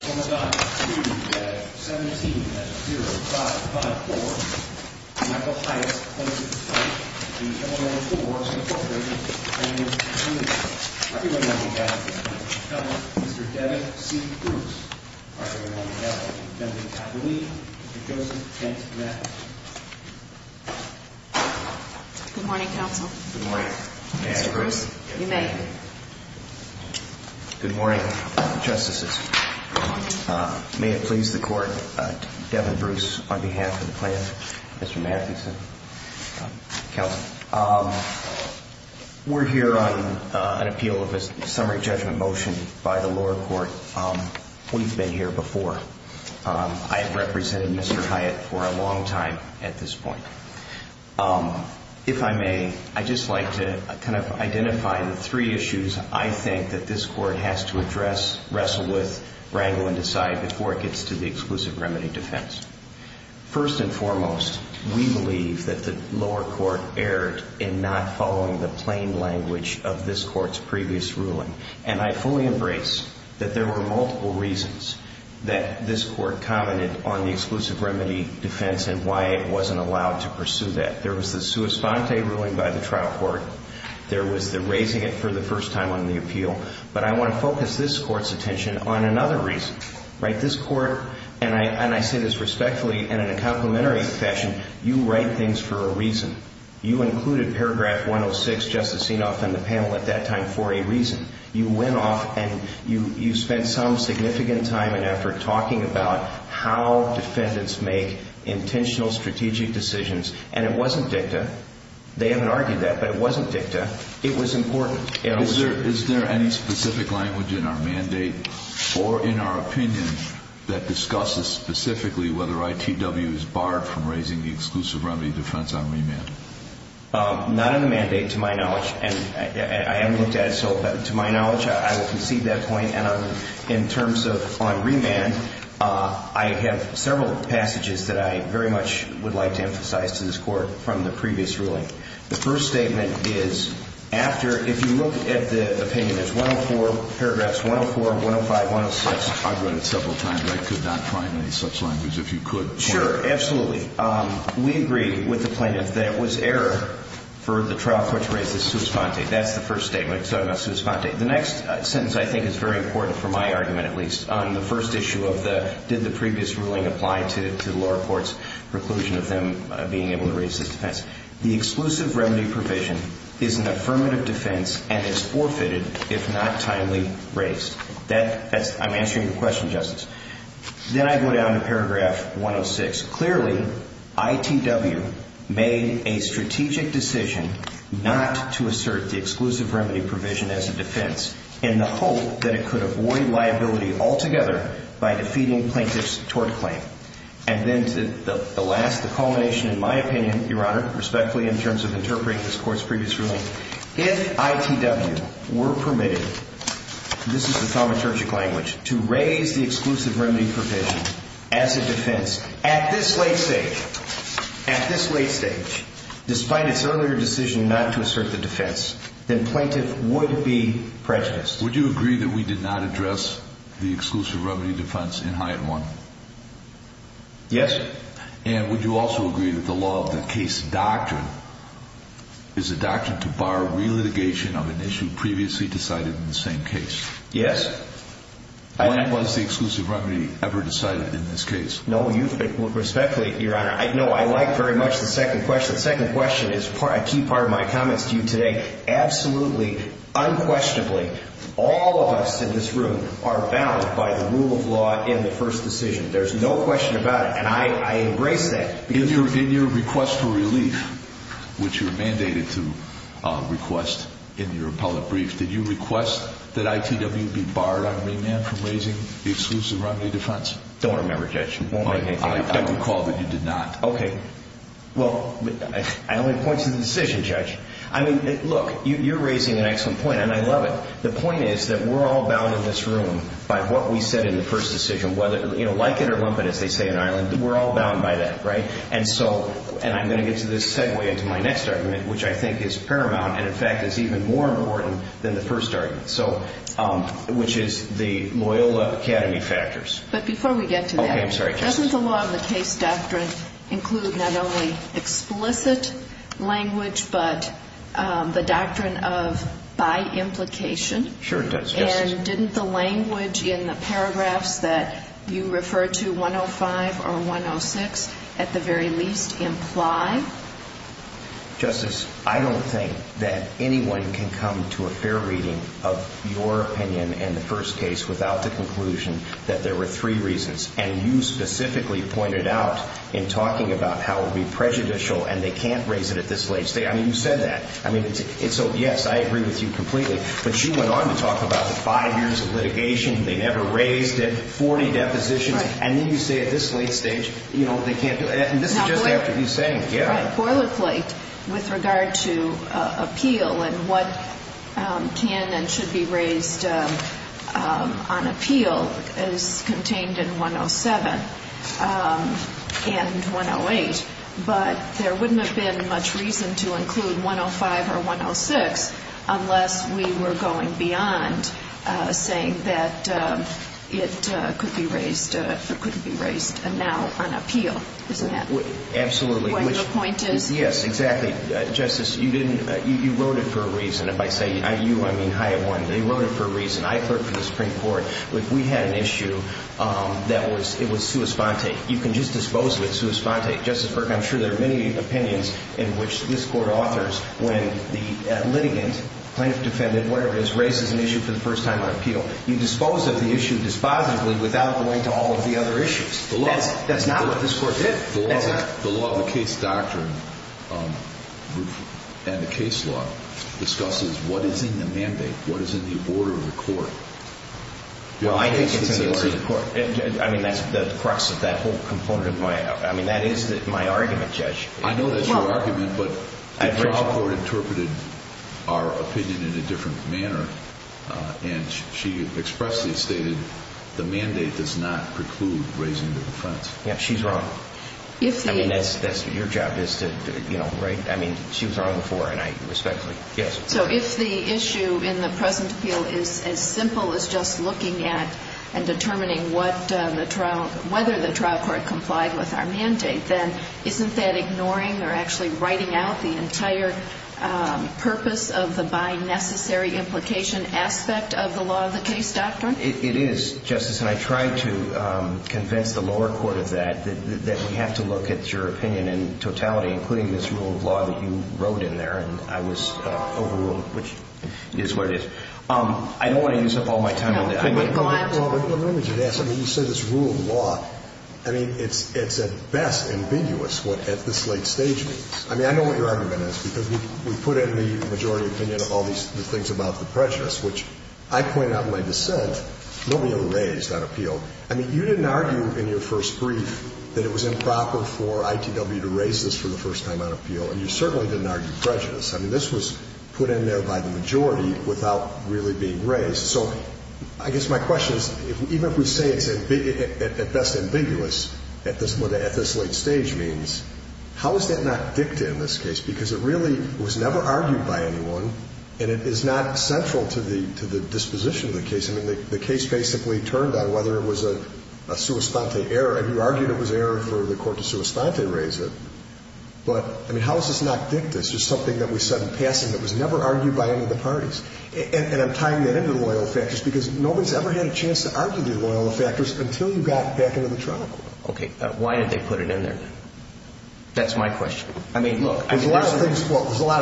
17-0554, Michael Hyatt v. Illinois Tool Works, Inc., and Mr. Devin C. Bruce v. Emily Tappalee v. Joseph Kent-Mathis. Good morning, counsel. Good morning. Mr. Bruce, you may. Good morning, justices. May it please the court, Devin Bruce on behalf of the plan, Mr. Mathison, counsel. We're here on an appeal of a summary judgment motion by the lower court. We've been here before. I have represented Mr. Hyatt for a long time at this point. If I may, I'd just like to kind of identify the three issues I think that this court has to address, wrestle with, wrangle and decide before it gets to the exclusive remedy defense. First and foremost, we believe that the lower court erred in not following the plain language of this court's previous ruling. And I fully embrace that there were multiple reasons that this court commented on the exclusive remedy defense and why it wasn't allowed to pursue that. There was the sua sponte ruling by the trial court. There was the raising it for the first time on the appeal. But I want to focus this court's attention on another reason. This court, and I say this respectfully and in a complimentary fashion, you write things for a reason. You included paragraph 106, Justice Enoff and the panel at that time for a reason. You went off and you spent some significant time and effort talking about how defendants make intentional strategic decisions. And it wasn't dicta. They haven't argued that, but it wasn't dicta. It was important. Is there any specific language in our mandate or in our opinion that discusses specifically whether ITW is barred from raising the exclusive remedy defense on remand? Not in the mandate, to my knowledge. And I haven't looked at it, so to my knowledge, I will concede that point. And in terms of on remand, I have several passages that I very much would like to emphasize to this court from the previous ruling. The first statement is after, if you look at the opinion, it's 104, paragraphs 104, 105, 106. I've read it several times. I could not find any such language. If you could point it out. Sure, absolutely. We agree with the plaintiff that it was error for the trial court to raise this sua sponte. That's the first statement. It's not a sua sponte. The next sentence I think is very important for my argument, at least, on the first issue of the did the previous ruling apply to the lower court's preclusion of them being able to raise this defense. The exclusive remedy provision is an affirmative defense and is forfeited if not timely raised. I'm answering your question, Justice. Then I go down to paragraph 106. Clearly, ITW made a strategic decision not to assert the exclusive remedy provision as a defense in the hope that it could avoid liability altogether by defeating plaintiff's tort claim. And then to the last, the culmination, in my opinion, Your Honor, respectfully, in terms of interpreting this Court's previous ruling, if ITW were permitted, this is the thaumaturgic language, to raise the exclusive remedy provision as a defense at this late stage, at this late stage, despite its earlier decision not to assert the defense, then plaintiff would be prejudiced. Would you agree that we did not address the exclusive remedy defense in Hyatt 1? Yes. And would you also agree that the law of the case doctrine is a doctrine to bar relitigation of an issue previously decided in the same case? Yes. When was the exclusive remedy ever decided in this case? No, respectfully, Your Honor, no, I like very much the second question. The second question is a key part of my comments to you today. Absolutely, unquestionably, all of us in this room are bound by the rule of law in the first decision. There's no question about it, and I embrace that. In your request for relief, which you're mandated to request in your appellate brief, did you request that ITW be barred on remand from raising the exclusive remedy defense? Don't remember, Judge. I recall that you did not. Okay. Well, I only point to the decision, Judge. I mean, look, you're raising an excellent point, and I love it. The point is that we're all bound in this room by what we said in the first decision. Like it or lump it, as they say in Ireland, we're all bound by that, right? And I'm going to get to this segue into my next argument, which I think is paramount and, in fact, is even more important than the first argument, which is the Loyola Academy factors. But before we get to that, doesn't the law of the case doctrine include not only explicit language but the doctrine of by implication? Sure, it does, Justice. And didn't the language in the paragraphs that you refer to, 105 or 106, at the very least imply? Justice, I don't think that anyone can come to a fair reading of your opinion in the first case without the conclusion that there were three reasons. And you specifically pointed out in talking about how it would be prejudicial and they can't raise it at this late stage. I mean, you said that. I mean, so, yes, I agree with you completely. But you went on to talk about the five years of litigation, they never raised it, 40 depositions. Right. And then you say at this late stage, you know, they can't do it. And this is just after you saying it, yeah. Right. Boilerplate with regard to appeal and what can and should be raised on appeal is contained in 107 and 108. But there wouldn't have been much reason to include 105 or 106 unless we were going beyond saying that it could be raised now on appeal. Isn't that what your point is? Absolutely. Yes, exactly. Justice, you wrote it for a reason. If I say you, I mean Hiawatha. You wrote it for a reason. I clerked for the Supreme Court. We had an issue that was, it was sua sponte. You can just dispose of it sua sponte. Justice Burke, I'm sure there are many opinions in which this court authors when the litigant, plaintiff, defendant, whatever it is, raises an issue for the first time on appeal. You dispose of the issue dispositively without going to all of the other issues. That's not what this court did. The law of the case doctrine and the case law discusses what is in the mandate, what is in the order of the court. Well, I think it's in the order of the court. I mean, that's the crux of that whole component of my, I mean, that is my argument, Judge. I know that's your argument, but the trial court interpreted our opinion in a different manner, and she expressly stated the mandate does not preclude raising the defense. Yeah, she's wrong. I mean, that's your job is to, you know, right? I mean, she was wrong before, and I respectfully, yes. So if the issue in the present appeal is as simple as just looking at and determining what the trial, whether the trial court complied with our mandate, then isn't that ignoring or actually writing out the entire purpose of the by necessary implication aspect of the law of the case doctrine? It is, Justice, and I tried to convince the lower court of that, that we have to look at your opinion in totality, including this rule of law that you wrote in there, and I was overruled, which is what it is. I don't want to use up all my time on that. Well, let me just ask. I mean, you said it's rule of law. I mean, it's at best ambiguous what at this late stage means. I mean, I know what your argument is, because we put it in the majority opinion of all these things about the prejudice, which I point out in my dissent, nobody ever raised on appeal. I mean, you didn't argue in your first brief that it was improper for ITW to raise this for the first time on appeal, and you certainly didn't argue prejudice. I mean, this was put in there by the majority without really being raised. So I guess my question is, even if we say it's at best ambiguous what at this late stage means, how is that not dicta in this case? Because it really was never argued by anyone, and it is not central to the disposition of the case. I mean, the case basically turned on whether it was a sua sponte error, and you argued it was error for the court to sua sponte raise it, but, I mean, how is this not dicta? It's just something that was said in passing that was never argued by any of the parties. And I'm tying that into the loyal effectors because nobody's ever had a chance to argue the loyal effectors until you got back into the trial court. Okay. Why did they put it in there, then? That's my question. I mean, look. There's a lot of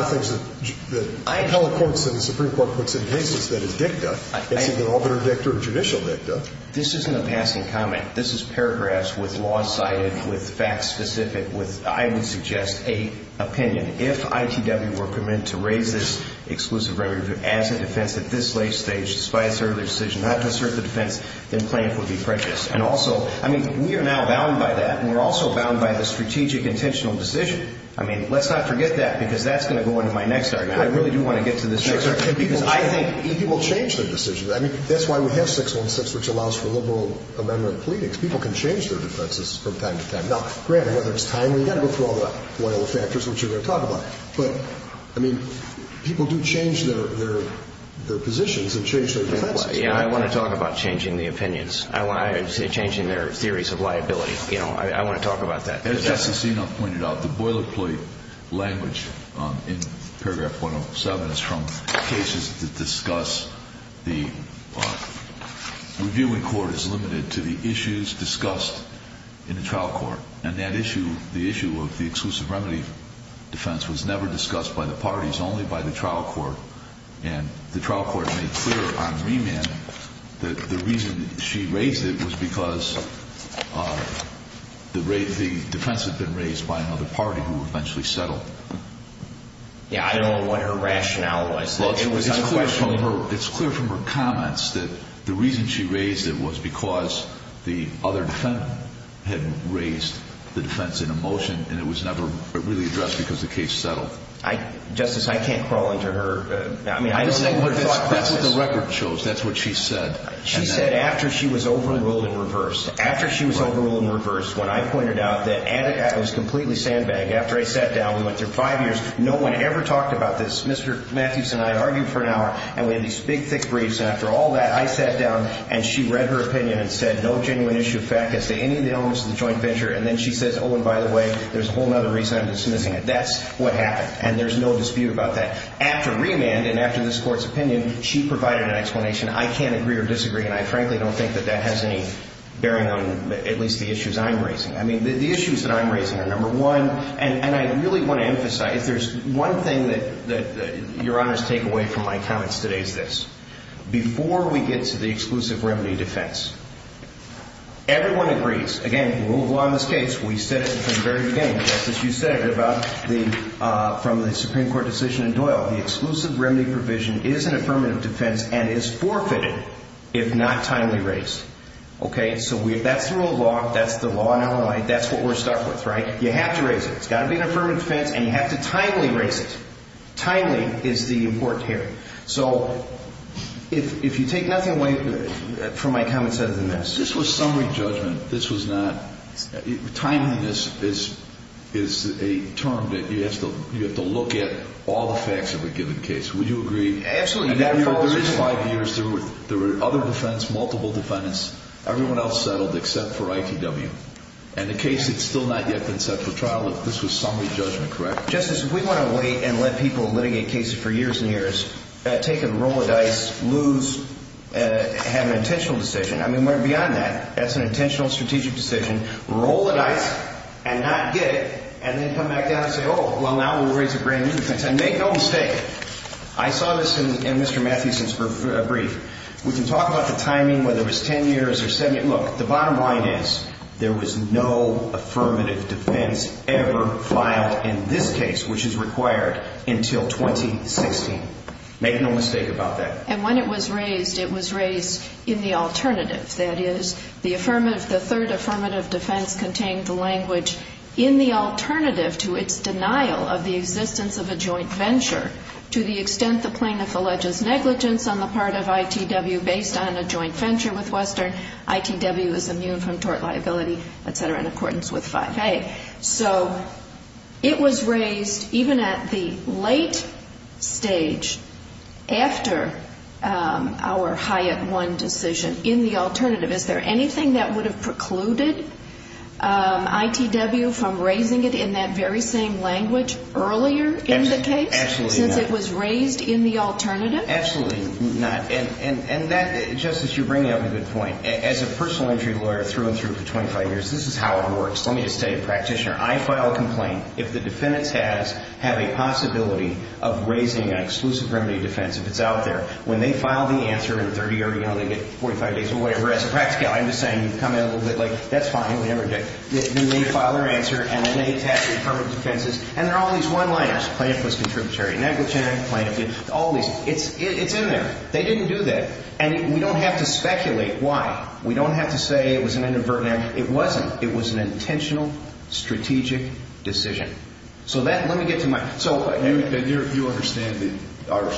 things that appellate courts and the Supreme Court puts in cases that is dicta. It's either arbitrary dicta or judicial dicta. This isn't a passing comment. This is paragraphs with law cited, with facts specific, with, I would suggest, an opinion. If ITW were committed to raise this exclusive remedy as a defense at this late stage, despite its early decision not to assert the defense, then plaintiff would be prejudiced. And also, I mean, we are now bound by that, and we're also bound by the strategic intentional decision. I mean, let's not forget that because that's going to go into my next argument. I really do want to get to this next argument because I think it will change the decision. I mean, that's why we have 616, which allows for liberal amendment pleadings. People can change their defenses from time to time. Now, granted, whether it's timely, you've got to go through all the loyal factors, which we're going to talk about. But, I mean, people do change their positions and change their defenses. Yeah, I want to talk about changing the opinions. I want to say changing their theories of liability. You know, I want to talk about that. As Justice Enum pointed out, the boilerplate language in paragraph 107 is from cases that discuss the reviewing court as limited to the issues discussed in the trial court. And that issue, the issue of the exclusive remedy defense, was never discussed by the parties, only by the trial court. And the trial court made clear on remand that the reason she raised it was because the defense had been raised by another party who eventually settled. Yeah, I don't know what her rationale was. It's clear from her comments that the reason she raised it was because the other defendant had raised the defense in a motion, and it was never really addressed because the case settled. Justice, I can't crawl into her thought process. That's what the record shows. That's what she said. She said after she was overruled and reversed. After she was overruled and reversed, when I pointed out that it was completely sandbagged, after I sat down, we went through five years, no one ever talked about this. Mr. Mathewson and I argued for an hour, and we had these big, thick briefs. And after all that, I sat down, and she read her opinion and said no genuine issue of fact as to any of the elements of the joint venture. And then she says, oh, and by the way, there's a whole other reason I'm dismissing it. That's what happened. And there's no dispute about that. After remand and after this Court's opinion, she provided an explanation. I can't agree or disagree, and I frankly don't think that that has any bearing on at least the issues I'm raising. I mean, the issues that I'm raising are, number one, and I really want to emphasize, there's one thing that Your Honors take away from my comments today is this. Before we get to the exclusive remedy defense, everyone agrees. Again, rule of law in this case, we said it from the very beginning, just as you said it from the Supreme Court decision in Doyle. The exclusive remedy provision is an affirmative defense and is forfeited if not timely raised. Okay, so that's the rule of law. That's the law in Illinois. That's what we're stuck with, right? You have to raise it. It's got to be an affirmative defense, and you have to timely raise it. Timely is the important here. So if you take nothing away from my comments other than this. This was summary judgment. This was not – timeliness is a term that you have to look at all the facts of a given case. Would you agree? Absolutely. There were 35 years. There were other defendants, multiple defendants. Everyone else settled except for ITW. And the case had still not yet been set for trial. This was summary judgment, correct? Justice, if we want to wait and let people litigate cases for years and years, take a roll of dice, lose, have an intentional decision. I mean, we're beyond that. That's an intentional strategic decision. Roll the dice and not get it, and then come back down and say, oh, well, now we'll raise a brand new defense. And make no mistake. I saw this in Mr. Matthewson's brief. We can talk about the timing, whether it was 10 years or 70. Look, the bottom line is there was no affirmative defense ever filed in this case, which is required, until 2016. Make no mistake about that. And when it was raised, it was raised in the alternative. That is, the third affirmative defense contained the language, in the alternative to its denial of the existence of a joint venture, to the extent the plaintiff alleges negligence on the part of ITW based on a joint venture with Western, ITW is immune from tort liability, et cetera, in accordance with 5A. Okay. So it was raised, even at the late stage, after our Hyatt 1 decision, in the alternative. Is there anything that would have precluded ITW from raising it in that very same language earlier in the case? Absolutely not. Since it was raised in the alternative? Absolutely not. And that, Justice, you bring up a good point. As a personal injury lawyer through and through for 25 years, this is how it works. Let me just tell you, practitioner, I file a complaint. If the defendants have a possibility of raising an exclusive remedy defense, if it's out there, when they file the answer in 30 years, you know, they get 45 days or whatever. As a practical, I'm just saying, you come in a little bit like, that's fine, whatever. They file their answer, and then they attack the affirmative defenses, and they're all these one-liners. Plaintiff was contributory. Negligent, plaintiff, all these. It's in there. They didn't do that. And we don't have to speculate why. We don't have to say it was an inadvertent. It wasn't. It was an intentional, strategic decision. So that, let me get to my, so. And you understand that our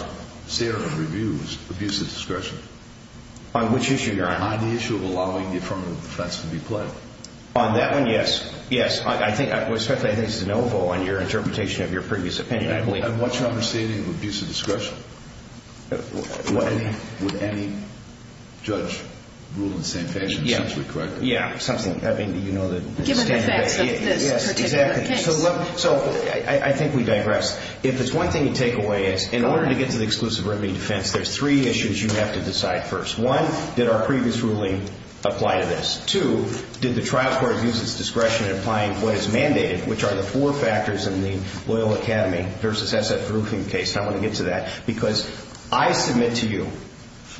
standard of review is abusive discretion? On which issue, Your Honor? On the issue of allowing the affirmative defense to be played. On that one, yes. Yes. I think, especially, I think this is an oval on your interpretation of your previous opinion, I believe. And what's your understanding of abusive discretion? Would any judge rule in the same fashion, essentially, correct me? Yeah, something, I mean, you know the standard. Given the facts of this particular case. Yes, exactly. So, I think we digress. If it's one thing to take away is, in order to get to the exclusive remedy defense, there's three issues you have to decide first. One, did our previous ruling apply to this? Two, did the trial court abuse its discretion in applying what is mandated, which are the four factors in the Loyola Academy versus SF Verhoeven case. I want to get to that. Because I submit to you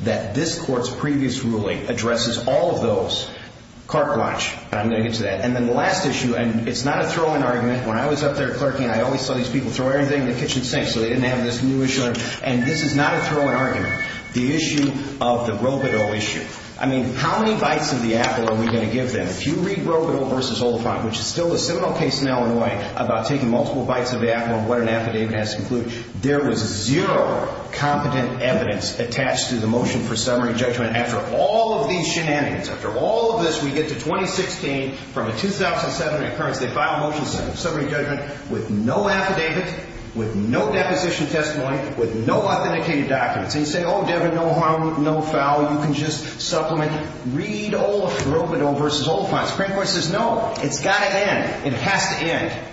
that this court's previous ruling addresses all of those. Clark Blanche. I'm going to get to that. And then the last issue, and it's not a throw-in argument. When I was up there clerking, I always saw these people throw everything in the kitchen sink, so they didn't have this new issue. And this is not a throw-in argument. The issue of the Robito issue. I mean, how many bites of the apple are we going to give them? If you read Robito versus Oliphant, which is still a seminal case in Illinois about taking multiple bites of the apple and what an affidavit has to conclude, there was zero competent evidence attached to the motion for summary judgment after all of these shenanigans. After all of this, we get to 2016 from a 2007 occurrence. They file a motion for summary judgment with no affidavit, with no deposition testimony, with no authenticated documents. And you say, oh, Devin, no harm, no foul. You can just supplement. Read Robito versus Oliphant. The Supreme Court says, no, it's got to end. It has to end.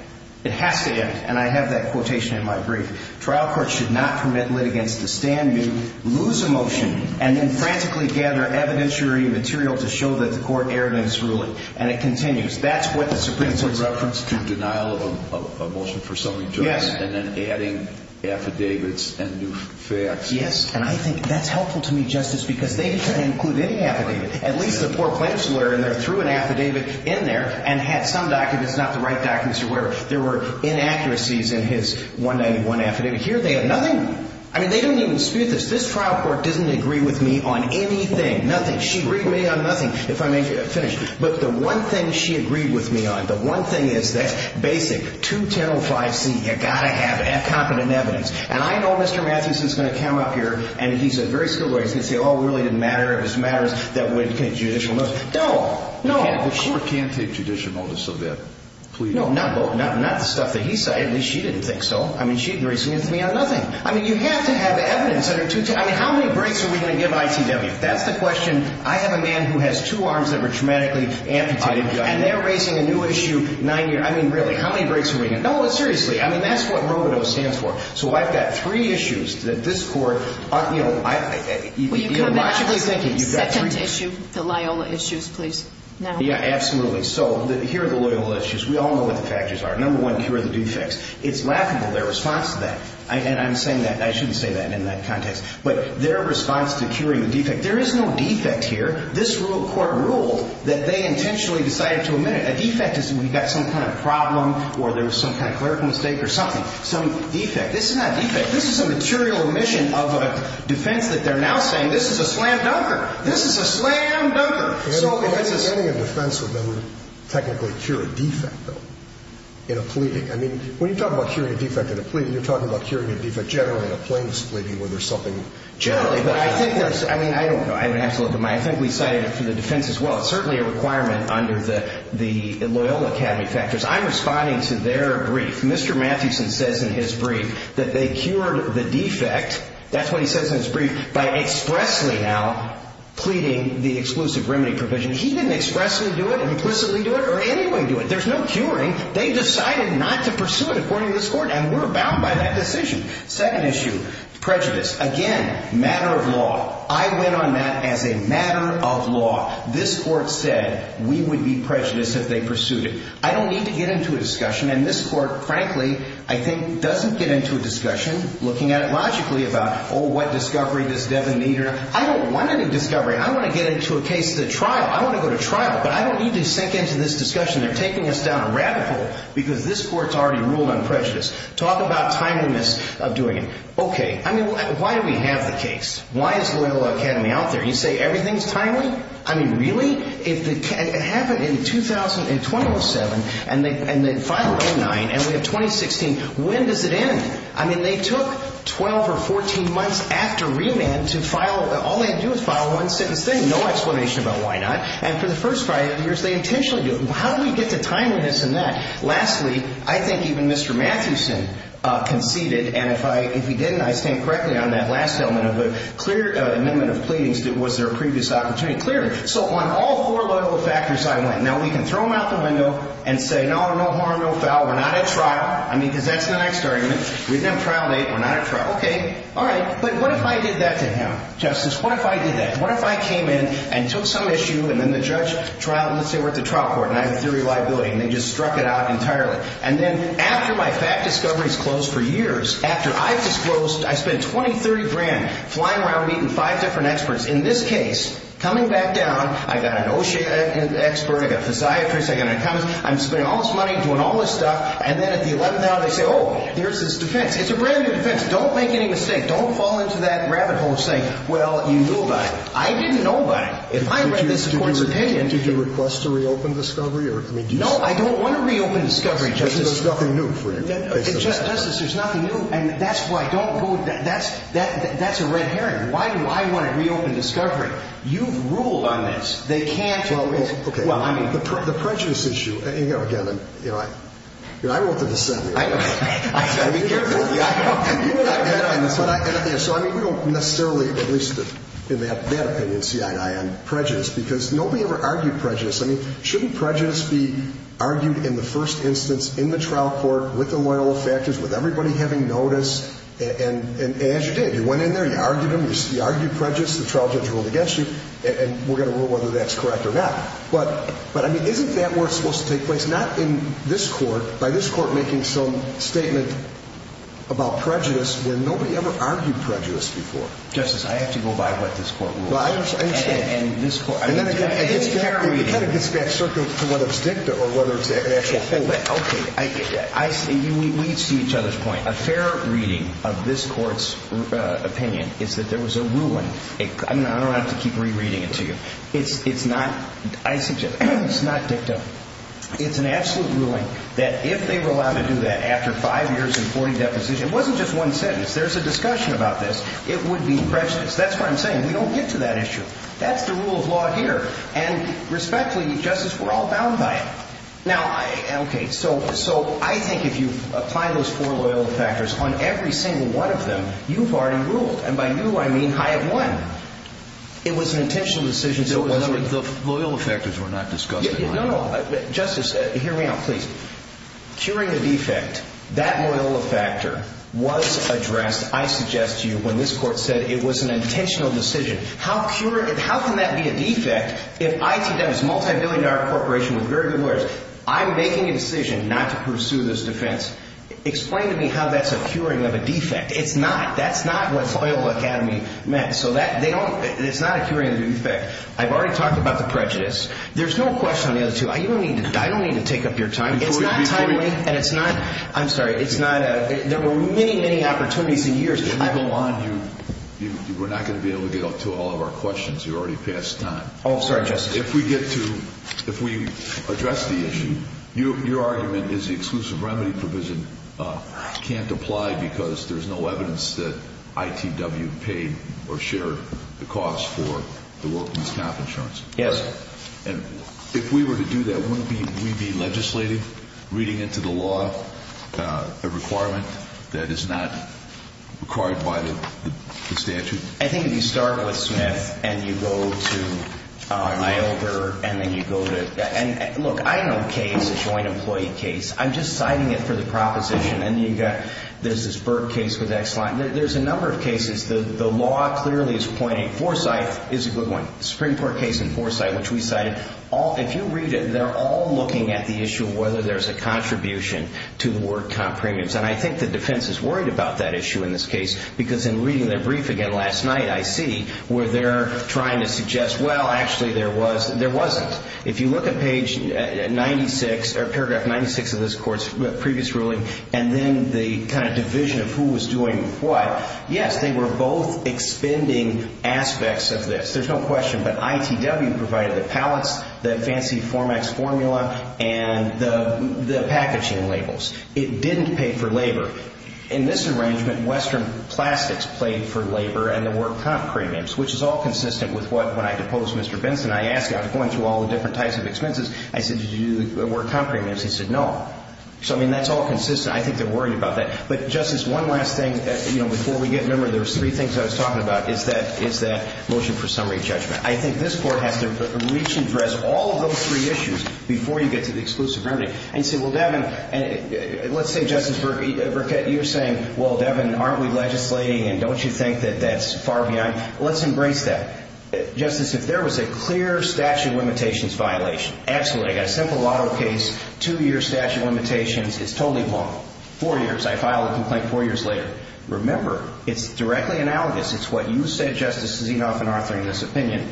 It has to end. And I have that quotation in my brief. Trial courts should not permit litigants to stand new, lose a motion, and then frantically gather evidentiary material to show that the court erred in its ruling. And it continues. That's what the Supreme Court says. It's a reference to denial of a motion for summary judgment. Yes. And then adding affidavits and new facts. Yes. And I think that's helpful to me, Justice, because they didn't include any affidavit. At least the poor plaintiff's lawyer in there threw an affidavit in there and had some documents, not the right documents or whatever. There were inaccuracies in his 191 affidavit. Here they have nothing. I mean, they don't even dispute this. This trial court doesn't agree with me on anything. Nothing. She agreed with me on nothing, if I may finish. But the one thing she agreed with me on, the one thing is that basic 2105C, you've got to have competent evidence. And I know Mr. Mathews is going to come up here and he's a very skilled lawyer. He's going to say, oh, it really didn't matter. It was matters that would take judicial notice. No. No. The court can't take judicial notice of that plea. No. Not the stuff that he said. At least she didn't think so. I mean, she agreed with me on nothing. I mean, you have to have evidence. I mean, how many breaks are we going to give ITW? That's the question. I have a man who has two arms that were dramatically amputated. And they're raising a new issue. I mean, really, how many breaks are we going to give? No, seriously. I mean, that's what robodose stands for. So I've got three issues that this court, you know, logically thinking. Will you come in on the second issue, the Loyola issues, please, now? Yeah, absolutely. So here are the Loyola issues. We all know what the factors are. Number one, cure the defects. It's laughable, their response to that. And I'm saying that. I shouldn't say that in that context. But their response to curing the defect. There is no defect here. This court ruled that they intentionally decided to admit it. A defect is we've got some kind of problem or there was some kind of clerical mistake or something. Some defect. This is not a defect. This is a material omission of a defense that they're now saying this is a slam dunker. This is a slam dunker. Any defense would never technically cure a defect, though, in a plea. I mean, when you talk about curing a defect in a plea, you're talking about curing a defect generally in a plaintiff's plea, where there's something generally. But I think there's, I mean, I don't know. I have an absolute, I think we cited it for the defense as well. It's certainly a requirement under the Loyola Academy factors. I'm responding to their brief. Mr. Matthewson says in his brief that they cured the defect, that's what he says in his brief, by expressly now pleading the exclusive remedy provision. He didn't expressly do it, implicitly do it, or anyway do it. There's no curing. They decided not to pursue it, according to this court, and we're bound by that decision. Second issue, prejudice. Again, matter of law. I went on that as a matter of law. This court said we would be prejudiced if they pursued it. I don't need to get into a discussion. And this court, frankly, I think doesn't get into a discussion looking at it logically about, oh, what discovery does Devin need. I don't want any discovery. I want to get into a case to trial. I want to go to trial. But I don't need to sink into this discussion. They're taking us down a rabbit hole because this court's already ruled on prejudice. Talk about timeliness of doing it. Okay. I mean, why do we have the case? Why is Loyola Academy out there? You say everything's timely? I mean, really? It happened in 2007, and they filed 09, and we have 2016. When does it end? I mean, they took 12 or 14 months after remand to file. All they do is file one sentence. There's no explanation about why not. And for the first five years, they intentionally do it. How do we get to timeliness in that? Lastly, I think even Mr. Mathewson conceded, and if he didn't, I stand correctly on that last element of a clear amendment of pleadings. Was there a previous opportunity? I mean, clearly. So on all four Loyola factors I went. Now, we can throw them out the window and say, no, no harm, no foul. We're not at trial. I mean, because that's the next argument. Read them trial date. We're not at trial. Okay. All right. But what if I did that to him? Justice, what if I did that? What if I came in and took some issue, and then the judge, trial, let's say we're at the trial court, and I have a theory of liability, and they just struck it out entirely. And then after my fact discovery is closed for years, after I've disclosed I spent 20, 30 grand flying around meeting five different experts, in this case, coming back down, I've got an OSHA expert, I've got a physiatrist, I've got an economist. I'm spending all this money doing all this stuff. And then at the 11th hour, they say, oh, here's this defense. It's a brand-new defense. Don't make any mistake. Don't fall into that rabbit hole of saying, well, you knew about it. I didn't know about it. If I read this court's opinion. Did you request to reopen discovery? No, I don't want to reopen discovery, Justice. There's nothing new for you. Justice, there's nothing new. And that's why. Don't go. That's a red herring. Why do I want to reopen discovery? You've ruled on this. They can't. Okay. Well, I mean. The prejudice issue. You know, again, you know, I wrote the dissent. I know. So, I mean, we don't necessarily, at least in that opinion, see eye to eye on prejudice. Because nobody ever argued prejudice. I mean, shouldn't prejudice be argued in the first instance in the trial court with the loyal effectors, with everybody having notice? And as you did. You went in there. You argued them. You argued prejudice. The trial judge ruled against you. And we're going to rule whether that's correct or not. But, I mean, isn't that where it's supposed to take place? Not in this court. By this court making some statement about prejudice where nobody ever argued prejudice before. Justice, I have to go by what this court ruled. Well, I understand. And this court. I need to have a fair reading. It kind of gets back circles to whether it's dicta or whether it's an actual holding. Okay. We can see each other's point. A fair reading of this court's opinion is that there was a ruling. I don't have to keep rereading it to you. It's not dicta. It's an absolute ruling that if they were allowed to do that after five years and 40 depositions. It wasn't just one sentence. There's a discussion about this. It would be prejudice. That's what I'm saying. We don't get to that issue. That's the rule of law here. And respectfully, Justice, we're all bound by it. Now, okay. So I think if you apply those four loyalty factors on every single one of them, you've already ruled. And by new, I mean high of one. It was an intentional decision. The loyalty factors were not discussed. No, no. Justice, hear me out, please. Curing a defect, that loyalty factor was addressed, I suggest to you, when this court said it was an intentional decision. How can that be a defect if ITW is a multibillion-dollar corporation with very good lawyers? I'm making a decision not to pursue this defense. Explain to me how that's a curing of a defect. It's not. That's not what Soil Academy meant. So it's not a curing of a defect. I've already talked about the prejudice. There's no question on the other two. I don't need to take up your time. It's not timely. And it's not. I'm sorry. It's not. There were many, many opportunities in years. If we go on, we're not going to be able to get to all of our questions. You're already past time. Oh, I'm sorry, Justice. If we get to, if we address the issue, your argument is the exclusive remedy provision can't apply because there's no evidence that ITW paid or shared the cost for the workers' comp insurance. Yes. And if we were to do that, wouldn't we be legislating, reading into the law a requirement that is not required by the statute? I think if you start with Smith and you go to Iover and then you go to, and look, I know case, a joint employee case. I'm just citing it for the proposition. And you've got, there's this Burke case with Exline. There's a number of cases. The law clearly is pointing, Forsythe is a good one, Supreme Court case in Forsythe, which we cited. If you read it, they're all looking at the issue of whether there's a contribution to the work comp premiums. And I think the defense is worried about that issue in this case because in reading their brief again last night, I see where they're trying to suggest, well, actually there was, there wasn't. If you look at page 96, or paragraph 96 of this court's previous ruling, and then the kind of division of who was doing what, yes, they were both expending aspects of this. There's no question. But ITW provided the pallets, the fancy Formax formula, and the packaging labels. It didn't pay for labor. In this arrangement, Western Plastics paid for labor and the work comp premiums, which is all consistent with what, when I deposed Mr. Benson, I asked him, I was going through all the different types of expenses. I said, did you do the work comp premiums? He said, no. So, I mean, that's all consistent. I think they're worried about that. But, Justice, one last thing, you know, before we get, remember, there's three things I was talking about, is that motion for summary judgment. I think this Court has to reach and address all of those three issues before you get to the exclusive remedy. And you say, well, Devin, let's say, Justice Burkett, you're saying, well, Devin, aren't we legislating and don't you think that that's far behind? Let's embrace that. Justice, if there was a clear statute of limitations violation, absolutely, I got a simple lotto case, two-year statute of limitations, it's totally wrong. Four years, I filed a complaint four years later. Remember, it's directly analogous. It's what you said, Justice Zinoff and Arthur, in this opinion.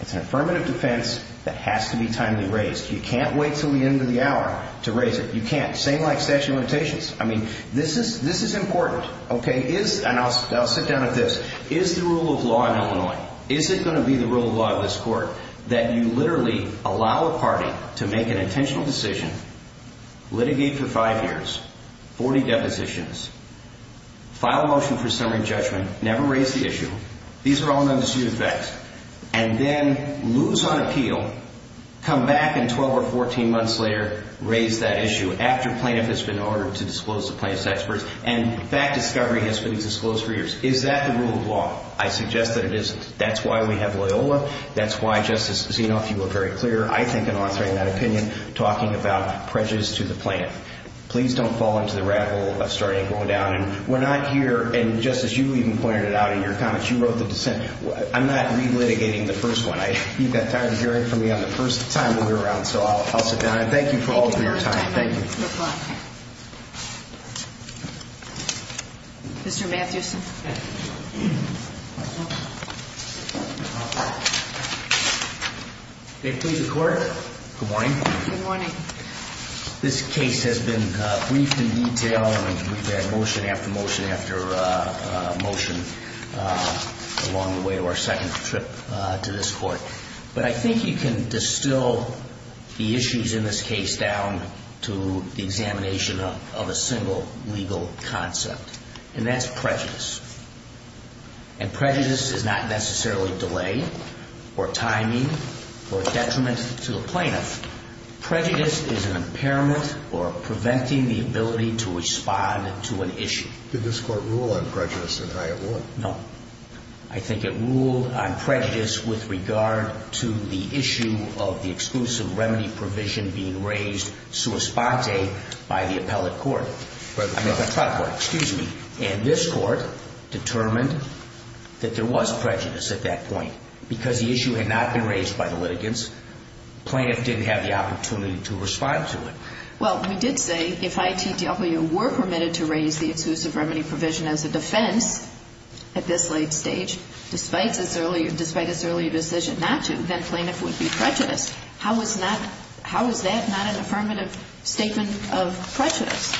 It's an affirmative defense that has to be timely raised. You can't wait until the end of the hour to raise it. You can't. Same like statute of limitations. I mean, this is important. Okay. And I'll sit down with this. Is the rule of law in Illinois, is it going to be the rule of law of this Court that you literally allow a party to make an intentional decision, litigate for five years, 40 depositions, file a motion for summary judgment, never raise the issue, these are all non-disputed effects, and then lose on appeal, come back in 12 or 14 months later, raise that issue after plaintiff has been ordered to disclose to plaintiff's experts, and that discovery has been disclosed for years. Is that the rule of law? I suggest that it isn't. That's why we have Loyola. That's why, Justice Zinoff, you were very clear, I think, in authoring that opinion, talking about prejudice to the plaintiff. Please don't fall into the rabbit hole of starting to go down, and we're not here. And, Justice, you even pointed it out in your comments. You wrote the dissent. I'm not relitigating the first one. You've got time to hear it from me on the first time we were around, so I'll sit down. And thank you for all of your time. Thank you. No problem. Mr. Mathewson. May it please the Court. Good morning. Good morning. This case has been briefed in detail and we've had motion after motion after motion along the way of our second trip to this Court. But I think you can distill the issues in this case down to the examination of a single legal concept, and that's prejudice. And prejudice is not necessarily delay or timing or detriment to the plaintiff. Prejudice is an impairment or preventing the ability to respond to an issue. Did this Court rule on prejudice in Hyatt Ward? No. I think it ruled on prejudice with regard to the issue of the exclusive remedy provision being raised sua sponte by the appellate court. By the front court. By the front court, excuse me. And this Court determined that there was prejudice at that point. Because the issue had not been raised by the litigants, plaintiff didn't have the opportunity to respond to it. Well, we did say if ITW were permitted to raise the exclusive remedy provision as a defense at this late stage, despite its earlier decision not to, then plaintiff would be prejudiced. How is that not an affirmative statement of prejudice?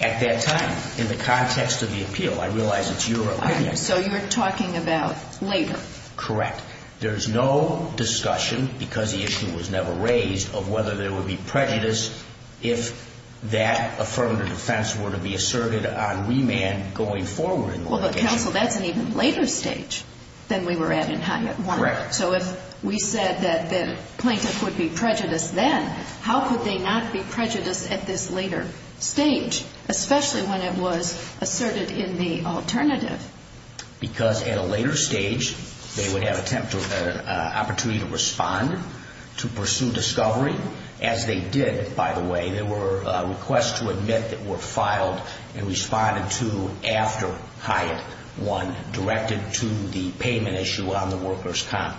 At that time, in the context of the appeal. I realize it's your opinion. So you're talking about later. Correct. There's no discussion, because the issue was never raised, of whether there would be prejudice if that affirmative defense were to be asserted on remand going forward. Well, but counsel, that's an even later stage than we were at in Hyatt Ward. Correct. So if we said that the plaintiff would be prejudiced then, how could they not be prejudiced at this later stage, especially when it was asserted in the alternative? Because at a later stage, they would have an opportunity to respond, to pursue discovery, as they did, by the way. There were requests to admit that were filed and responded to after Hyatt won, directed to the payment issue on the workers' comp.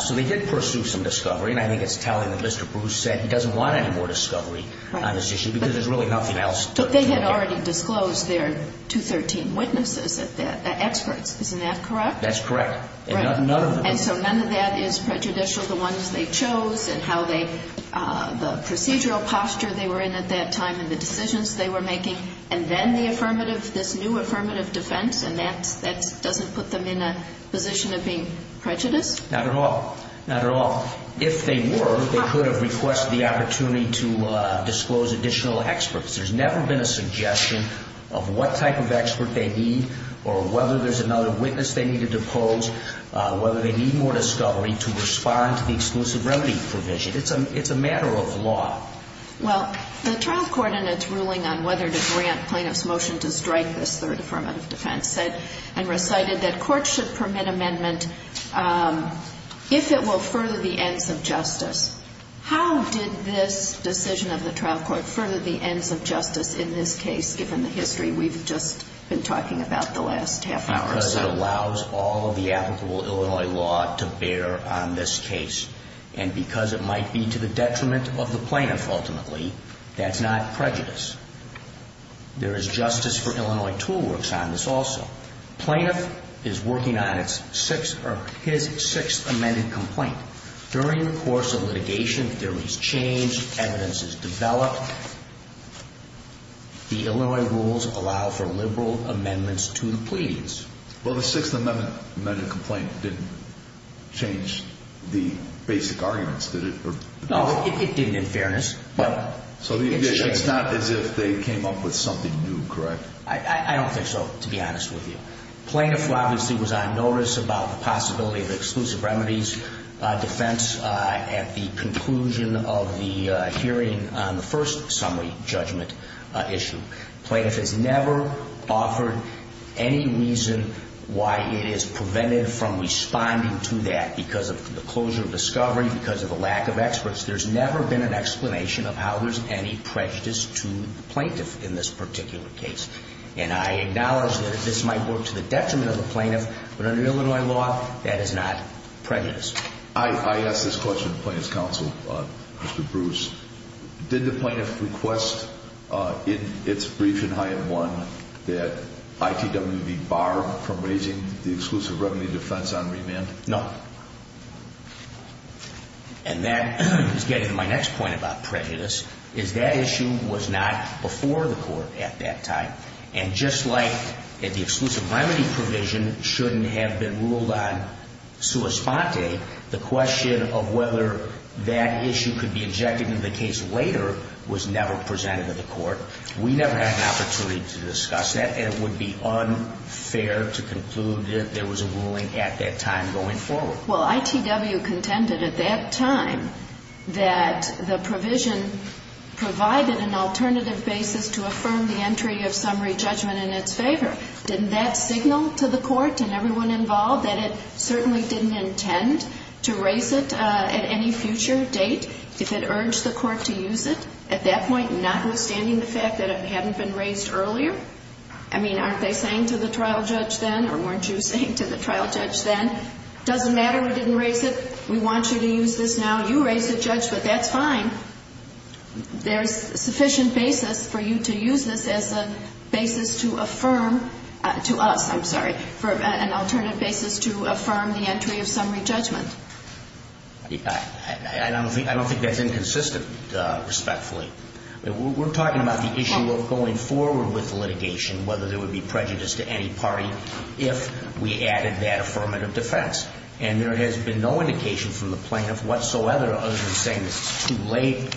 So they did pursue some discovery, and I think it's telling that Mr. Bruce said he doesn't want any more discovery on this issue, because there's really nothing else. But they had already disclosed their 213 witnesses, experts. Isn't that correct? That's correct. And so none of that is prejudicial, the ones they chose and how they, the procedural posture they were in at that time and the decisions they were making, and then the affirmative, this new affirmative defense, and that doesn't put them in a position of being prejudiced? Not at all. Not at all. If they were, they could have requested the opportunity to disclose additional experts. There's never been a suggestion of what type of expert they need or whether there's another witness they need to depose, whether they need more discovery to respond to the exclusive remedy provision. It's a matter of law. Well, the trial court in its ruling on whether to grant plaintiffs' motion to strike this third affirmative defense said and recited that courts should permit amendment if it will further the ends of justice. How did this decision of the trial court further the ends of justice in this case, given the history? We've just been talking about the last half hour or so. Because it allows all of the applicable Illinois law to bear on this case. And because it might be to the detriment of the plaintiff, ultimately, that's not prejudice. There is justice for Illinois tool works on this also. Plaintiff is working on his sixth amended complaint. During the course of litigation, theories change, evidence is developed. The Illinois rules allow for liberal amendments to the pleas. Well, the sixth amended complaint didn't change the basic arguments, did it? No, it didn't in fairness. So it's not as if they came up with something new, correct? I don't think so, to be honest with you. Plaintiff, obviously, was on notice about the possibility of exclusive remedies defense at the conclusion of the hearing on the first summary judgment issue. Plaintiff has never offered any reason why it is preventive from responding to that. Because of the closure of discovery, because of the lack of experts, there's never been an explanation of how there's any prejudice to the plaintiff in this particular case. And I acknowledge that this might work to the detriment of the plaintiff, but under Illinois law, that is not prejudice. I asked this question to Plaintiff's counsel, Mr. Bruce. Did the plaintiff request in its brief in Hyatt 1 that ITWB bar from raising the exclusive remedy defense on remand? No. And that is getting to my next point about prejudice, is that issue was not before the court at that time. And just like the exclusive remedy provision shouldn't have been ruled on sua sponte, the question of whether that issue could be injected into the case later was never presented to the court. We never had an opportunity to discuss that, and it would be unfair to conclude that there was a ruling at that time going forward. Well, ITW contended at that time that the provision provided an alternative basis to affirm the entry of summary judgment in its favor. Didn't that signal to the court and everyone involved that it certainly didn't intend to raise it at any future date, if it urged the court to use it at that point, notwithstanding the fact that it hadn't been raised earlier? I mean, aren't they saying to the trial judge then, or weren't you saying to the trial judge then, doesn't matter, we didn't raise it, we want you to use this now, you raise it, judge, but that's fine. There's sufficient basis for you to use this as a basis to affirm to us, I'm sorry, for an alternative basis to affirm the entry of summary judgment. I don't think that's inconsistent, respectfully. We're talking about the issue of going forward with litigation, whether there would be prejudice to any party, if we added that affirmative defense. And there has been no indication from the plaintiff whatsoever, other than saying this is too late,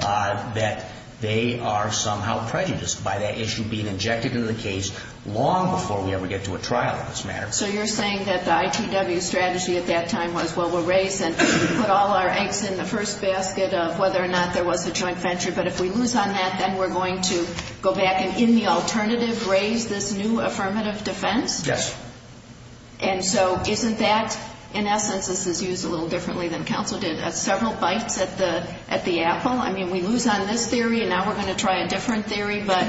that they are somehow prejudiced by that issue being injected into the case long before we ever get to a trial on this matter. So you're saying that the ITW strategy at that time was, well, we'll raise it, put all our eggs in the first basket of whether or not there was a joint venture, but if we lose on that, then we're going to go back and, in the alternative, raise this new affirmative defense? Yes. And so isn't that, in essence, this is used a little differently than counsel did, several bites at the apple? I mean, we lose on this theory, and now we're going to try a different theory, but,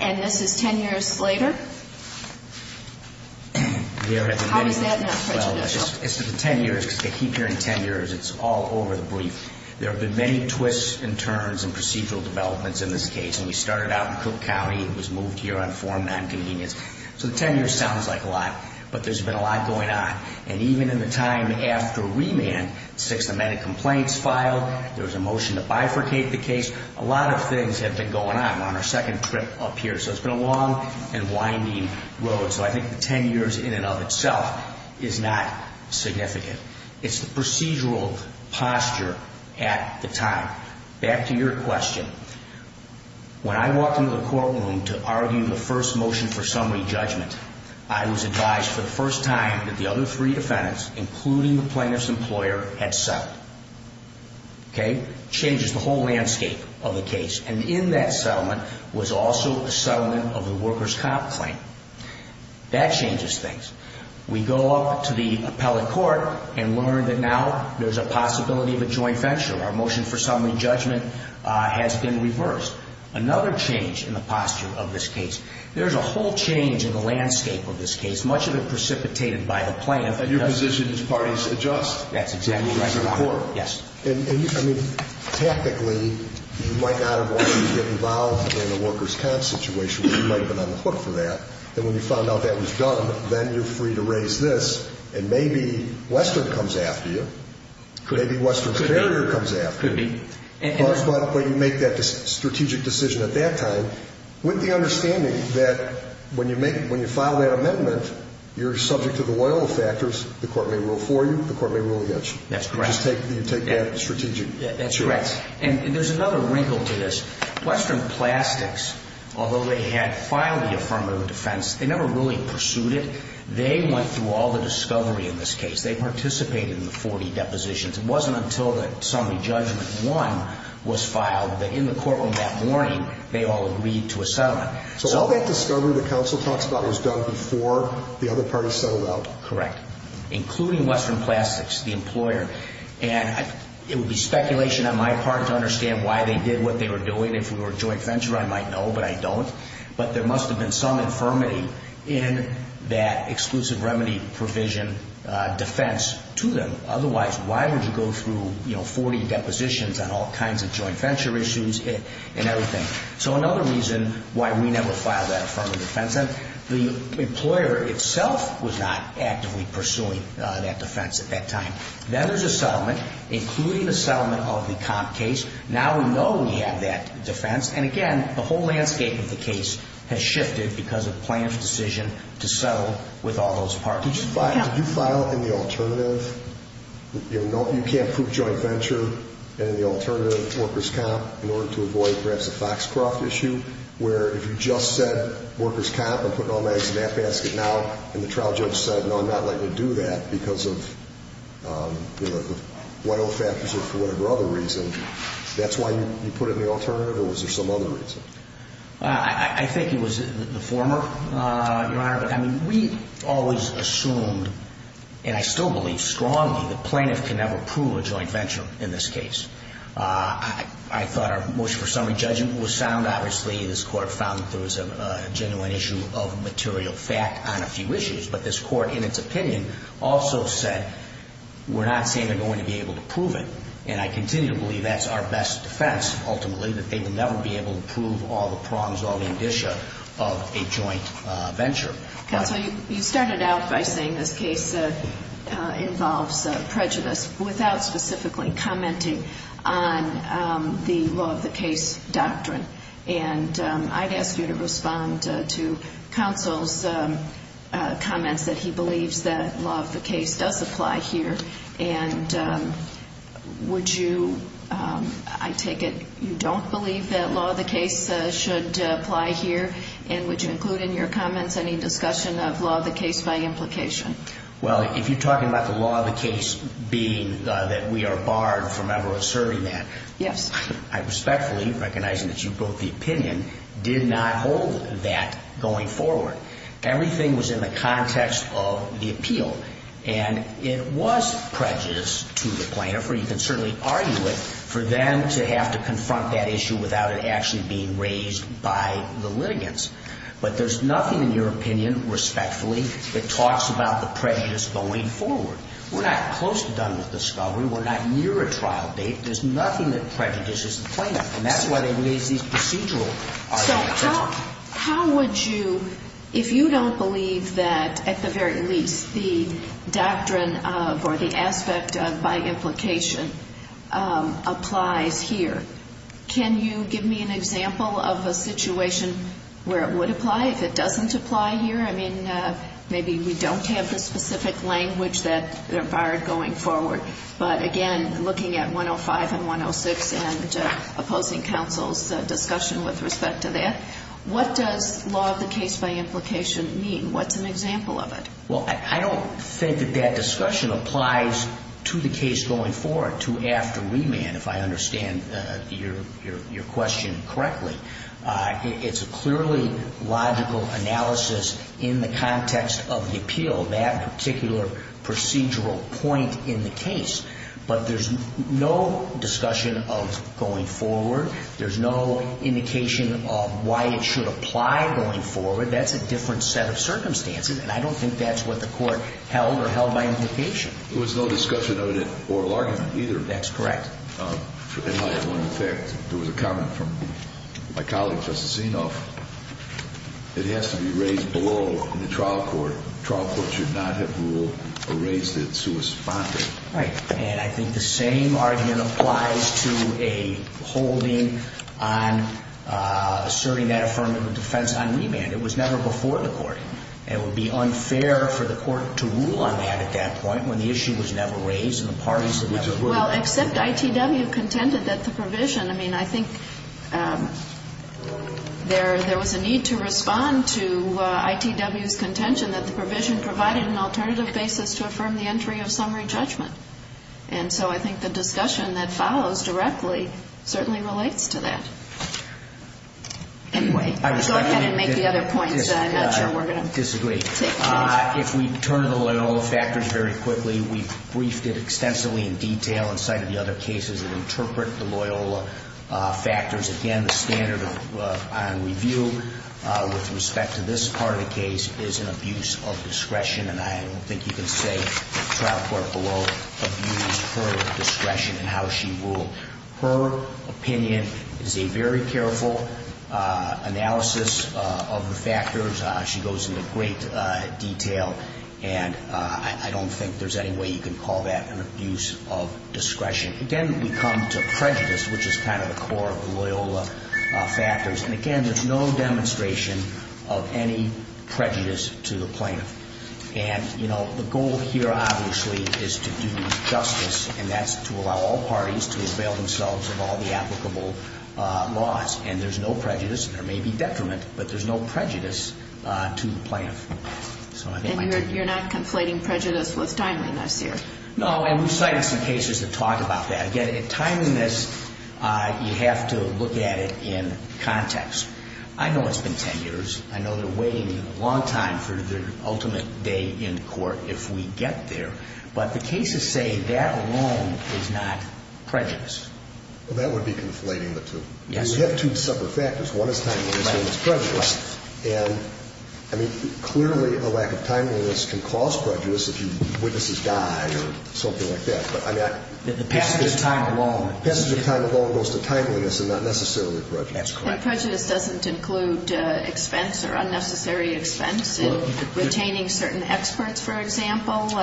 and this is 10 years later? How is that not prejudicial? It's the 10 years, because they keep hearing 10 years. It's all over the brief. There have been many twists and turns and procedural developments in this case, and we started out in Cook County and was moved here on form nonconvenience. So the 10 years sounds like a lot, but there's been a lot going on. And even in the time after remand, six amended complaints filed, there was a motion to bifurcate the case. A lot of things have been going on. We're on our second trip up here, so it's been a long and winding road. So I think the 10 years in and of itself is not significant. It's the procedural posture at the time. Back to your question. When I walked into the courtroom to argue the first motion for summary judgment, I was advised for the first time that the other three defendants, including the plaintiff's employer, had settled. Okay? Changes the whole landscape of the case. And in that settlement was also a settlement of the workers' comp claim. That changes things. We go up to the appellate court and learn that now there's a possibility of a joint venture. Our motion for summary judgment has been reversed. Another change in the posture of this case. There's a whole change in the landscape of this case, much of it precipitated by the plaintiff. And your position is parties adjust. That's exactly right. And, I mean, tactically, you might not have wanted to get involved in a workers' comp situation, but you might have been on the hook for that. And when you found out that was done, then you're free to raise this. And maybe Western comes after you. Maybe Western Carrier comes after you. But when you make that strategic decision at that time, with the understanding that when you file that amendment, you're subject to the loyal factors. The court may rule for you. The court may rule against you. That's correct. You take that strategic action. That's correct. And there's another wrinkle to this. Western Plastics, although they had filed the affirmative defense, they never really pursued it. They went through all the discovery in this case. They participated in the 40 depositions. It wasn't until the summary judgment one was filed that, in the courtroom that morning, they all agreed to a settlement. So all that discovery the counsel talks about was done before the other parties settled out. Correct. Including Western Plastics, the employer. And it would be speculation on my part to understand why they did what they were doing. If we were a joint venture, I might know, but I don't. But there must have been some infirmity in that exclusive remedy provision defense to them. Otherwise, why would you go through 40 depositions on all kinds of joint venture issues and everything? So another reason why we never filed that affirmative defense. The employer itself was not actively pursuing that defense at that time. Then there's a settlement, including a settlement of the comp case. Now we know we have that defense. And, again, the whole landscape of the case has shifted because of the plaintiff's decision to settle with all those parties. Did you file in the alternative? You can't prove joint venture in the alternative workers' comp in order to avoid perhaps a Foxcroft issue, where if you just said workers' comp, I'm putting all my eggs in that basket now, and the trial judge said, no, I'm not likely to do that because of whatever other reason, that's why you put it in the alternative? Or was there some other reason? I think it was the former, Your Honor. But, I mean, we always assumed, and I still believe strongly, that plaintiff can never prove a joint venture in this case. I thought our motion for summary judgment was sound. Obviously, this Court found that there was a genuine issue of material fact on a few issues. But this Court, in its opinion, also said, we're not saying they're going to be able to prove it. And I continue to believe that's our best defense, ultimately, that they will never be able to prove all the prongs, all the indicia of a joint venture. Counsel, you started out by saying this case involves prejudice, without specifically commenting on the law-of-the-case doctrine. And I'd ask you to respond to counsel's comments that he believes that law-of-the-case does apply here. And would you, I take it you don't believe that law-of-the-case should apply here? And would you include in your comments any discussion of law-of-the-case by implication? Well, if you're talking about the law-of-the-case being that we are barred from ever asserting that, I respectfully, recognizing that you brought the opinion, did not hold that going forward. Everything was in the context of the appeal. And it was prejudiced to the plaintiff, or you can certainly argue it, for them to have to confront that issue without it actually being raised by the litigants. But there's nothing in your opinion, respectfully, that talks about the prejudice going forward. We're not close to done with discovery. We're not near a trial date. There's nothing that prejudices the plaintiff. And that's why they raise these procedural arguments. How would you, if you don't believe that, at the very least, the doctrine of or the aspect of by implication applies here, can you give me an example of a situation where it would apply, if it doesn't apply here? I mean, maybe we don't have the specific language that they're barred going forward. But, again, looking at 105 and 106 and opposing counsel's discussion with respect to that, what does law of the case by implication mean? What's an example of it? Well, I don't think that that discussion applies to the case going forward, to after remand, if I understand your question correctly. It's a clearly logical analysis in the context of the appeal, that particular procedural point in the case. But there's no discussion of going forward. There's no indication of why it should apply going forward. That's a different set of circumstances. And I don't think that's what the court held or held by implication. There was no discussion of it in oral argument either. That's correct. In light of one effect, there was a comment from my colleague, Justice Zinoff, that it has to be raised below in the trial court. The trial court should not have ruled or raised it suspended. Right. And I think the same argument applies to a holding on asserting that affirmative defense on remand. It was never before the court. It would be unfair for the court to rule on that at that point when the issue was never raised and the parties had never ruled on it. Well, except ITW contended that the provision. I mean, I think there was a need to respond to ITW's contention that the provision provided an alternative basis to affirm the entry of summary judgment. And so I think the discussion that follows directly certainly relates to that. Anyway, I was going to make the other points. I'm not sure we're going to take minutes. If we turn to the Loyola factors very quickly, we've briefed it extensively in detail inside of the other cases that interpret the Loyola factors. Again, the standard on review with respect to this part of the case is an abuse of discretion, and I don't think you can say the trial court below abused her discretion in how she ruled. Her opinion is a very careful analysis of the factors. She goes into great detail, and I don't think there's any way you can call that an abuse of discretion. Again, we come to prejudice, which is kind of the core of the Loyola factors. And again, there's no demonstration of any prejudice to the plaintiff. And, you know, the goal here obviously is to do justice, and that's to allow all parties to avail themselves of all the applicable laws. And there's no prejudice, and there may be detriment, but there's no prejudice to the plaintiff. And you're not conflating prejudice with timeliness here? No, and we've cited some cases that talk about that. Again, timeliness, you have to look at it in context. I know it's been 10 years. I know they're waiting a long time for their ultimate day in court if we get there. But the cases say that alone is not prejudice. That would be conflating the two. You have two separate factors. One is timeliness and one is prejudice. Right. And, I mean, clearly a lack of timeliness can cause prejudice if witnesses die or something like that. But, I mean, passage of time alone goes to timeliness and not necessarily prejudice. That's correct. And prejudice doesn't include expense or unnecessary expense in retaining certain experts, for example,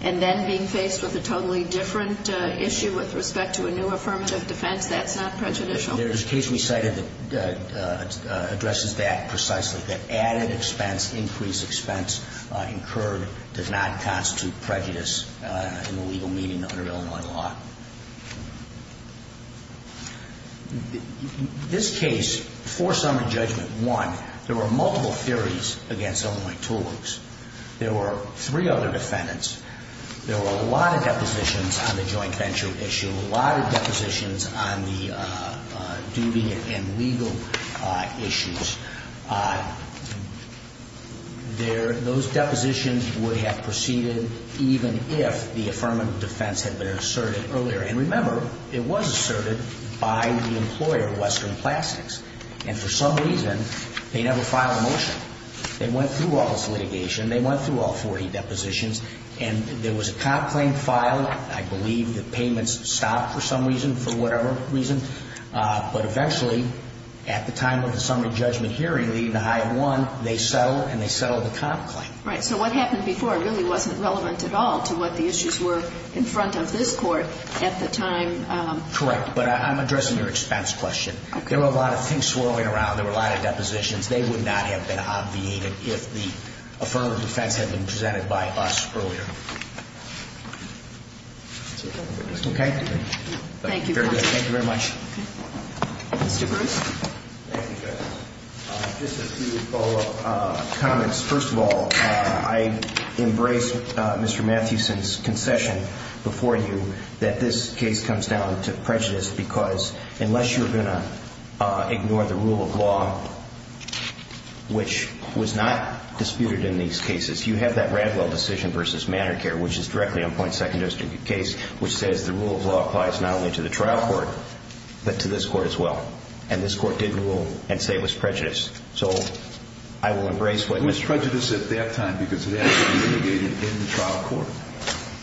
and then being faced with a totally different issue with respect to a new affirmative defense. That's not prejudicial. There's a case we cited that addresses that precisely, that added expense, increased expense incurred does not constitute prejudice in a legal meeting under Illinois law. This case, for summary judgment one, there were multiple theories against Illinois toolers. There were three other defendants. There were a lot of depositions on the joint venture issue, a lot of depositions on the duty and legal issues. Those depositions would have proceeded even if the affirmative defense had been asserted earlier. And remember, it was asserted by the employer, Western Plastics. And for some reason, they never filed a motion. They went through all this litigation. They went through all 40 depositions. And there was a comp claim filed. I believe the payments stopped for some reason, for whatever reason. But eventually, at the time of the summary judgment hearing leading to HIA 1, they settled and they settled the comp claim. Right. So what happened before really wasn't relevant at all to what the issues were in front of this court at the time. Correct. But I'm addressing your expense question. There were a lot of things swirling around. There were a lot of depositions. They would not have been obviated if the affirmative defense had been presented by us earlier. Okay? Thank you. Very good. Thank you very much. Mr. Bruce? Thank you, Justice. Just a few follow-up comments. First of all, I embrace Mr. Mathewson's concession before you that this case comes down to prejudice because unless you're going to ignore the rule of law, which was not disputed in these cases, you have that Radwell decision versus Manor Care, which is directly on point secondary case, which says the rule of law applies not only to the trial court but to this court as well. And this court did rule and say it was prejudice. So I will embrace what Mr. Mathewson said at that time because it has to be mitigated in the trial court.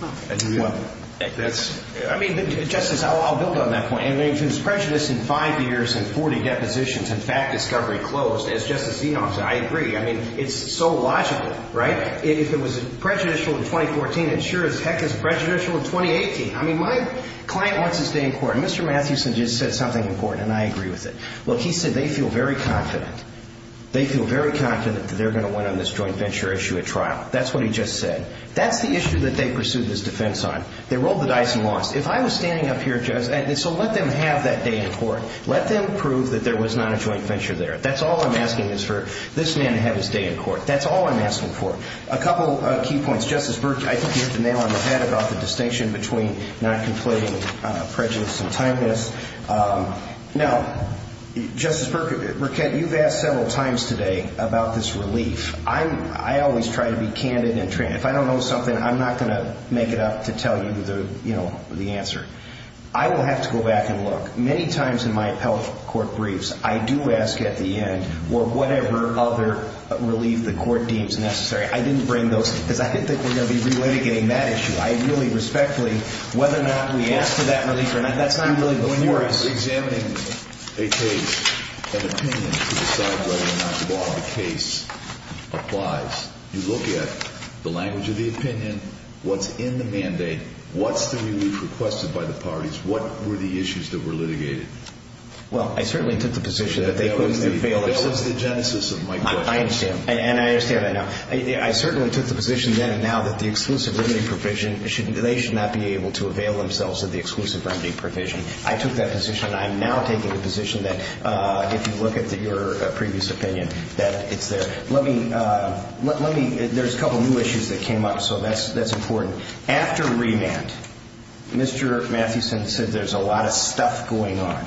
I mean, Justice, I'll build on that point. If it was prejudice in five years and 40 depositions and fact discovery closed, as Justice Zinoff said, I agree. I mean, it's so logical, right? If it was prejudicial in 2014, it sure as heck is prejudicial in 2018. I mean, my client wants to stay in court. And Mr. Mathewson just said something important, and I agree with it. Look, he said they feel very confident. They feel very confident that they're going to win on this joint venture issue at trial. That's what he just said. That's the issue that they pursued this defense on. They rolled the dice and lost. If I was standing up here, Justice, and so let them have that day in court. Let them prove that there was not a joint venture there. That's all I'm asking is for this man to have his day in court. That's all I'm asking for. A couple of key points. Justice Birch, I think you hit the nail on the head about the distinction between not conflating prejudice and timeliness. Now, Justice Birch, you've asked several times today about this relief. I always try to be candid. If I don't know something, I'm not going to make it up to tell you the answer. I will have to go back and look. Many times in my appellate court briefs, I do ask at the end for whatever other relief the court deems necessary. I didn't bring those because I didn't think we were going to be relitigating that issue. I really respectfully, whether or not we ask for that relief or not, that's not really before us. When you're examining a case, an opinion to decide whether or not the law of the case applies, you look at the language of the opinion, what's in the mandate, what's the relief requested by the parties, what were the issues that were litigated. Well, I certainly took the position that they couldn't have failed us. That was the genesis of my question. I understand. And I understand that now. I certainly took the position then and now that the exclusive remedy provision, they should not be able to avail themselves of the exclusive remedy provision. I took that position. I'm now taking a position that if you look at your previous opinion, that it's there. There's a couple new issues that came up, so that's important. After remand, Mr. Mathewson said there's a lot of stuff going on.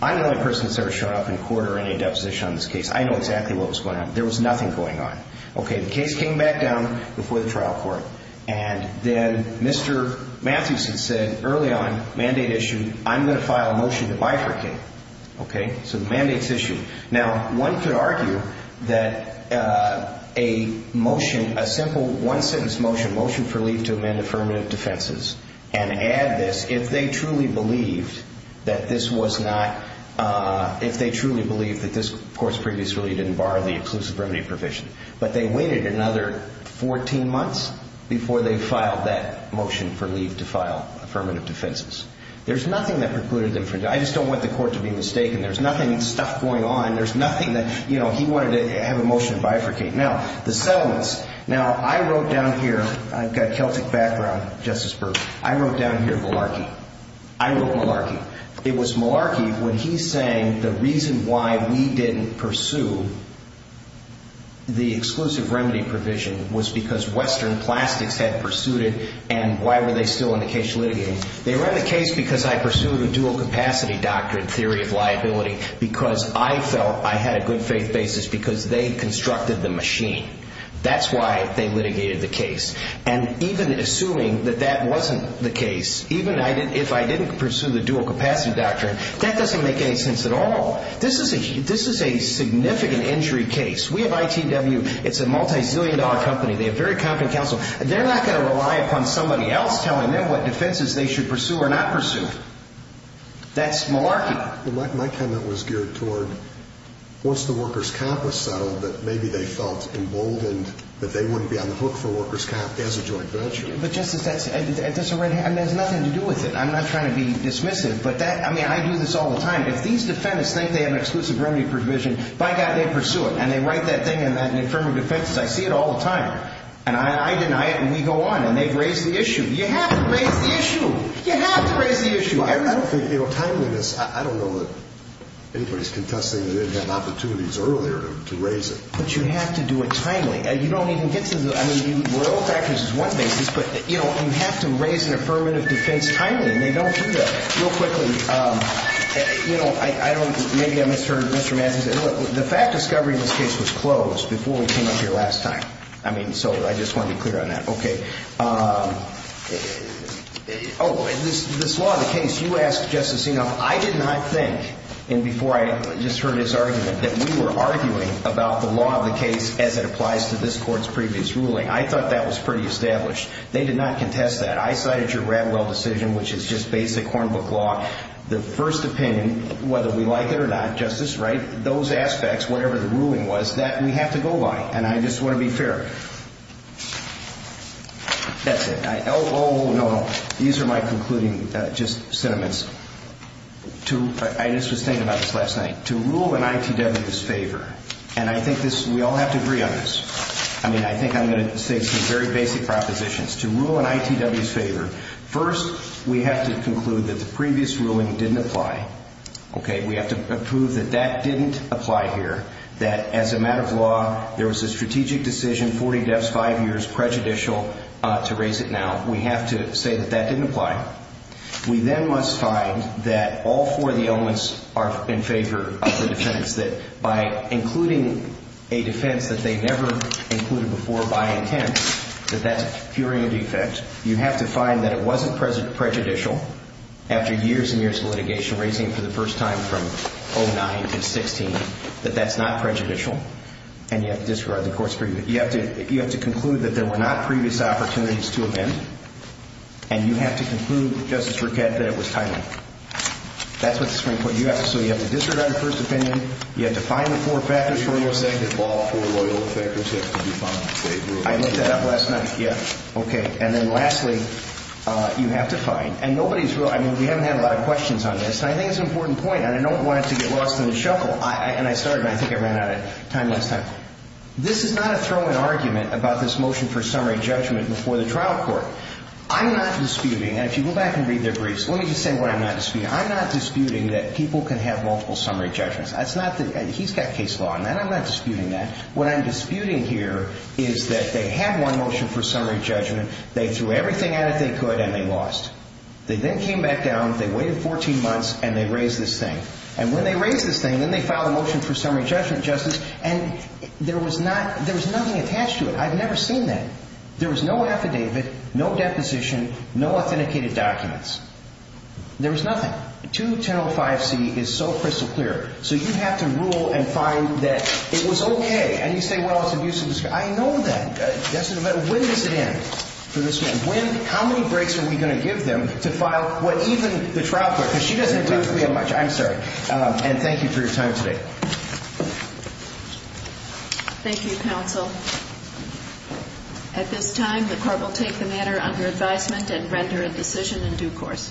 I'm the only person that's ever shown up in court or any deposition on this case. I know exactly what was going on. There was nothing going on. Okay. The case came back down before the trial court, and then Mr. Mathewson said early on, mandate issue, I'm going to file a motion to bifurcate. Okay. So the mandate's issued. Now, one could argue that a motion, a simple one-sentence motion, motion for leave to amend affirmative defenses, and add this, if they truly believed that this was not, if they truly believed that this court's previous ruling didn't bar the exclusive remedy provision, but they waited another 14 months before they filed that motion for leave to file affirmative defenses. There's nothing that precluded them from doing that. I just don't want the court to be mistaken. There's nothing, stuff going on. There's nothing that, you know, he wanted to have a motion to bifurcate. Now, the settlements. Now, I wrote down here. I've got Celtic background, Justice Berg. I wrote down here malarkey. I wrote malarkey. It was malarkey when he's saying the reason why we didn't pursue the exclusive remedy provision was because Western Plastics had pursued it, and why were they still in the case litigating? They ran the case because I pursued a dual-capacity doctrine theory of liability because I felt I had a good-faith basis because they constructed the machine. And even assuming that that wasn't the case, even if I didn't pursue the dual-capacity doctrine, that doesn't make any sense at all. This is a significant injury case. We have ITW. It's a multi-zillion-dollar company. They have very competent counsel. They're not going to rely upon somebody else telling them what defenses they should pursue or not pursue. That's malarkey. My comment was geared toward once the workers' comp was settled, that maybe they felt emboldened that they wouldn't be on the hook for workers' comp as a joint venture. But, Justice, that's a red herring. There's nothing to do with it. I'm not trying to be dismissive. But, I mean, I do this all the time. If these defendants think they have an exclusive remedy provision, by God, they pursue it. And they write that thing in the affirmative defense. I see it all the time. And I deny it, and we go on. And they've raised the issue. You have to raise the issue. You have to raise the issue. I don't think, you know, timeliness. I don't know that anybody's contesting that they didn't have opportunities earlier to raise it. But you have to do it timely. You don't even get to the, I mean, we're all factors as one basis. But, you know, you have to raise an affirmative defense timely, and they don't do that. Real quickly, you know, I don't, maybe I misheard Mr. Madsen. The fact discovery in this case was closed before we came up here last time. I mean, so I just want to be clear on that. Okay. Oh, and this law of the case, you asked, Justice Enoff, I did not think, and before I just heard his argument, that we were arguing about the law of the case as it applies to this court's previous ruling. I thought that was pretty established. They did not contest that. I cited your Radwell decision, which is just basic Hornbook law. The first opinion, whether we like it or not, Justice, right, those aspects, whatever the ruling was, that we have to go by. And I just want to be fair. That's it. Oh, no. These are my concluding just sentiments. I just was thinking about this last night. To rule in ITW's favor, and I think this, we all have to agree on this. I mean, I think I'm going to say some very basic propositions. To rule in ITW's favor, first, we have to conclude that the previous ruling didn't apply. Okay. There was a strategic decision, 40 deaths, 5 years, prejudicial, to raise it now. We have to say that that didn't apply. We then must find that all four of the elements are in favor of the defense, that by including a defense that they never included before by intent, that that's curing a defect. You have to find that it wasn't prejudicial after years and years of litigation, raising it for the first time from 09 to 16, that that's not prejudicial. And you have to disregard the court's opinion. You have to conclude that there were not previous opportunities to amend. And you have to conclude, Justice Rickett, that it was timely. That's what the Supreme Court, you have to, so you have to disregard the first opinion. You have to find the four factors for the most effective law. All four of the factors have to be found in favor of the defense. I looked that up last night. Yeah. Okay. And then lastly, you have to find, and nobody's really, I mean, we haven't had a lot of questions on this. And I think it's an important point, and I don't want it to get lost in the shuffle. And I started, and I think I ran out of time last time. This is not a throw-in argument about this motion for summary judgment before the trial court. I'm not disputing, and if you go back and read their briefs, let me just say what I'm not disputing. I'm not disputing that people can have multiple summary judgments. That's not the, and he's got case law on that. I'm not disputing that. What I'm disputing here is that they have one motion for summary judgment. They threw everything at it they could, and they lost. They then came back down, they waited 14 months, and they raised this thing. And when they raised this thing, then they filed a motion for summary judgment, Justice, and there was not, there was nothing attached to it. I've never seen that. There was no affidavit, no deposition, no authenticated documents. There was nothing. 2105C is so crystal clear. So you have to rule and find that it was okay. And you say, well, it's abuse of discretion. I know that. That's an event. When does it end for this man? When, how many breaks are we going to give them to file what even the trial court, because she doesn't agree with me on much. I'm sorry. And thank you for your time today. Thank you, counsel. At this time, the court will take the matter under advisement and render a decision in due course.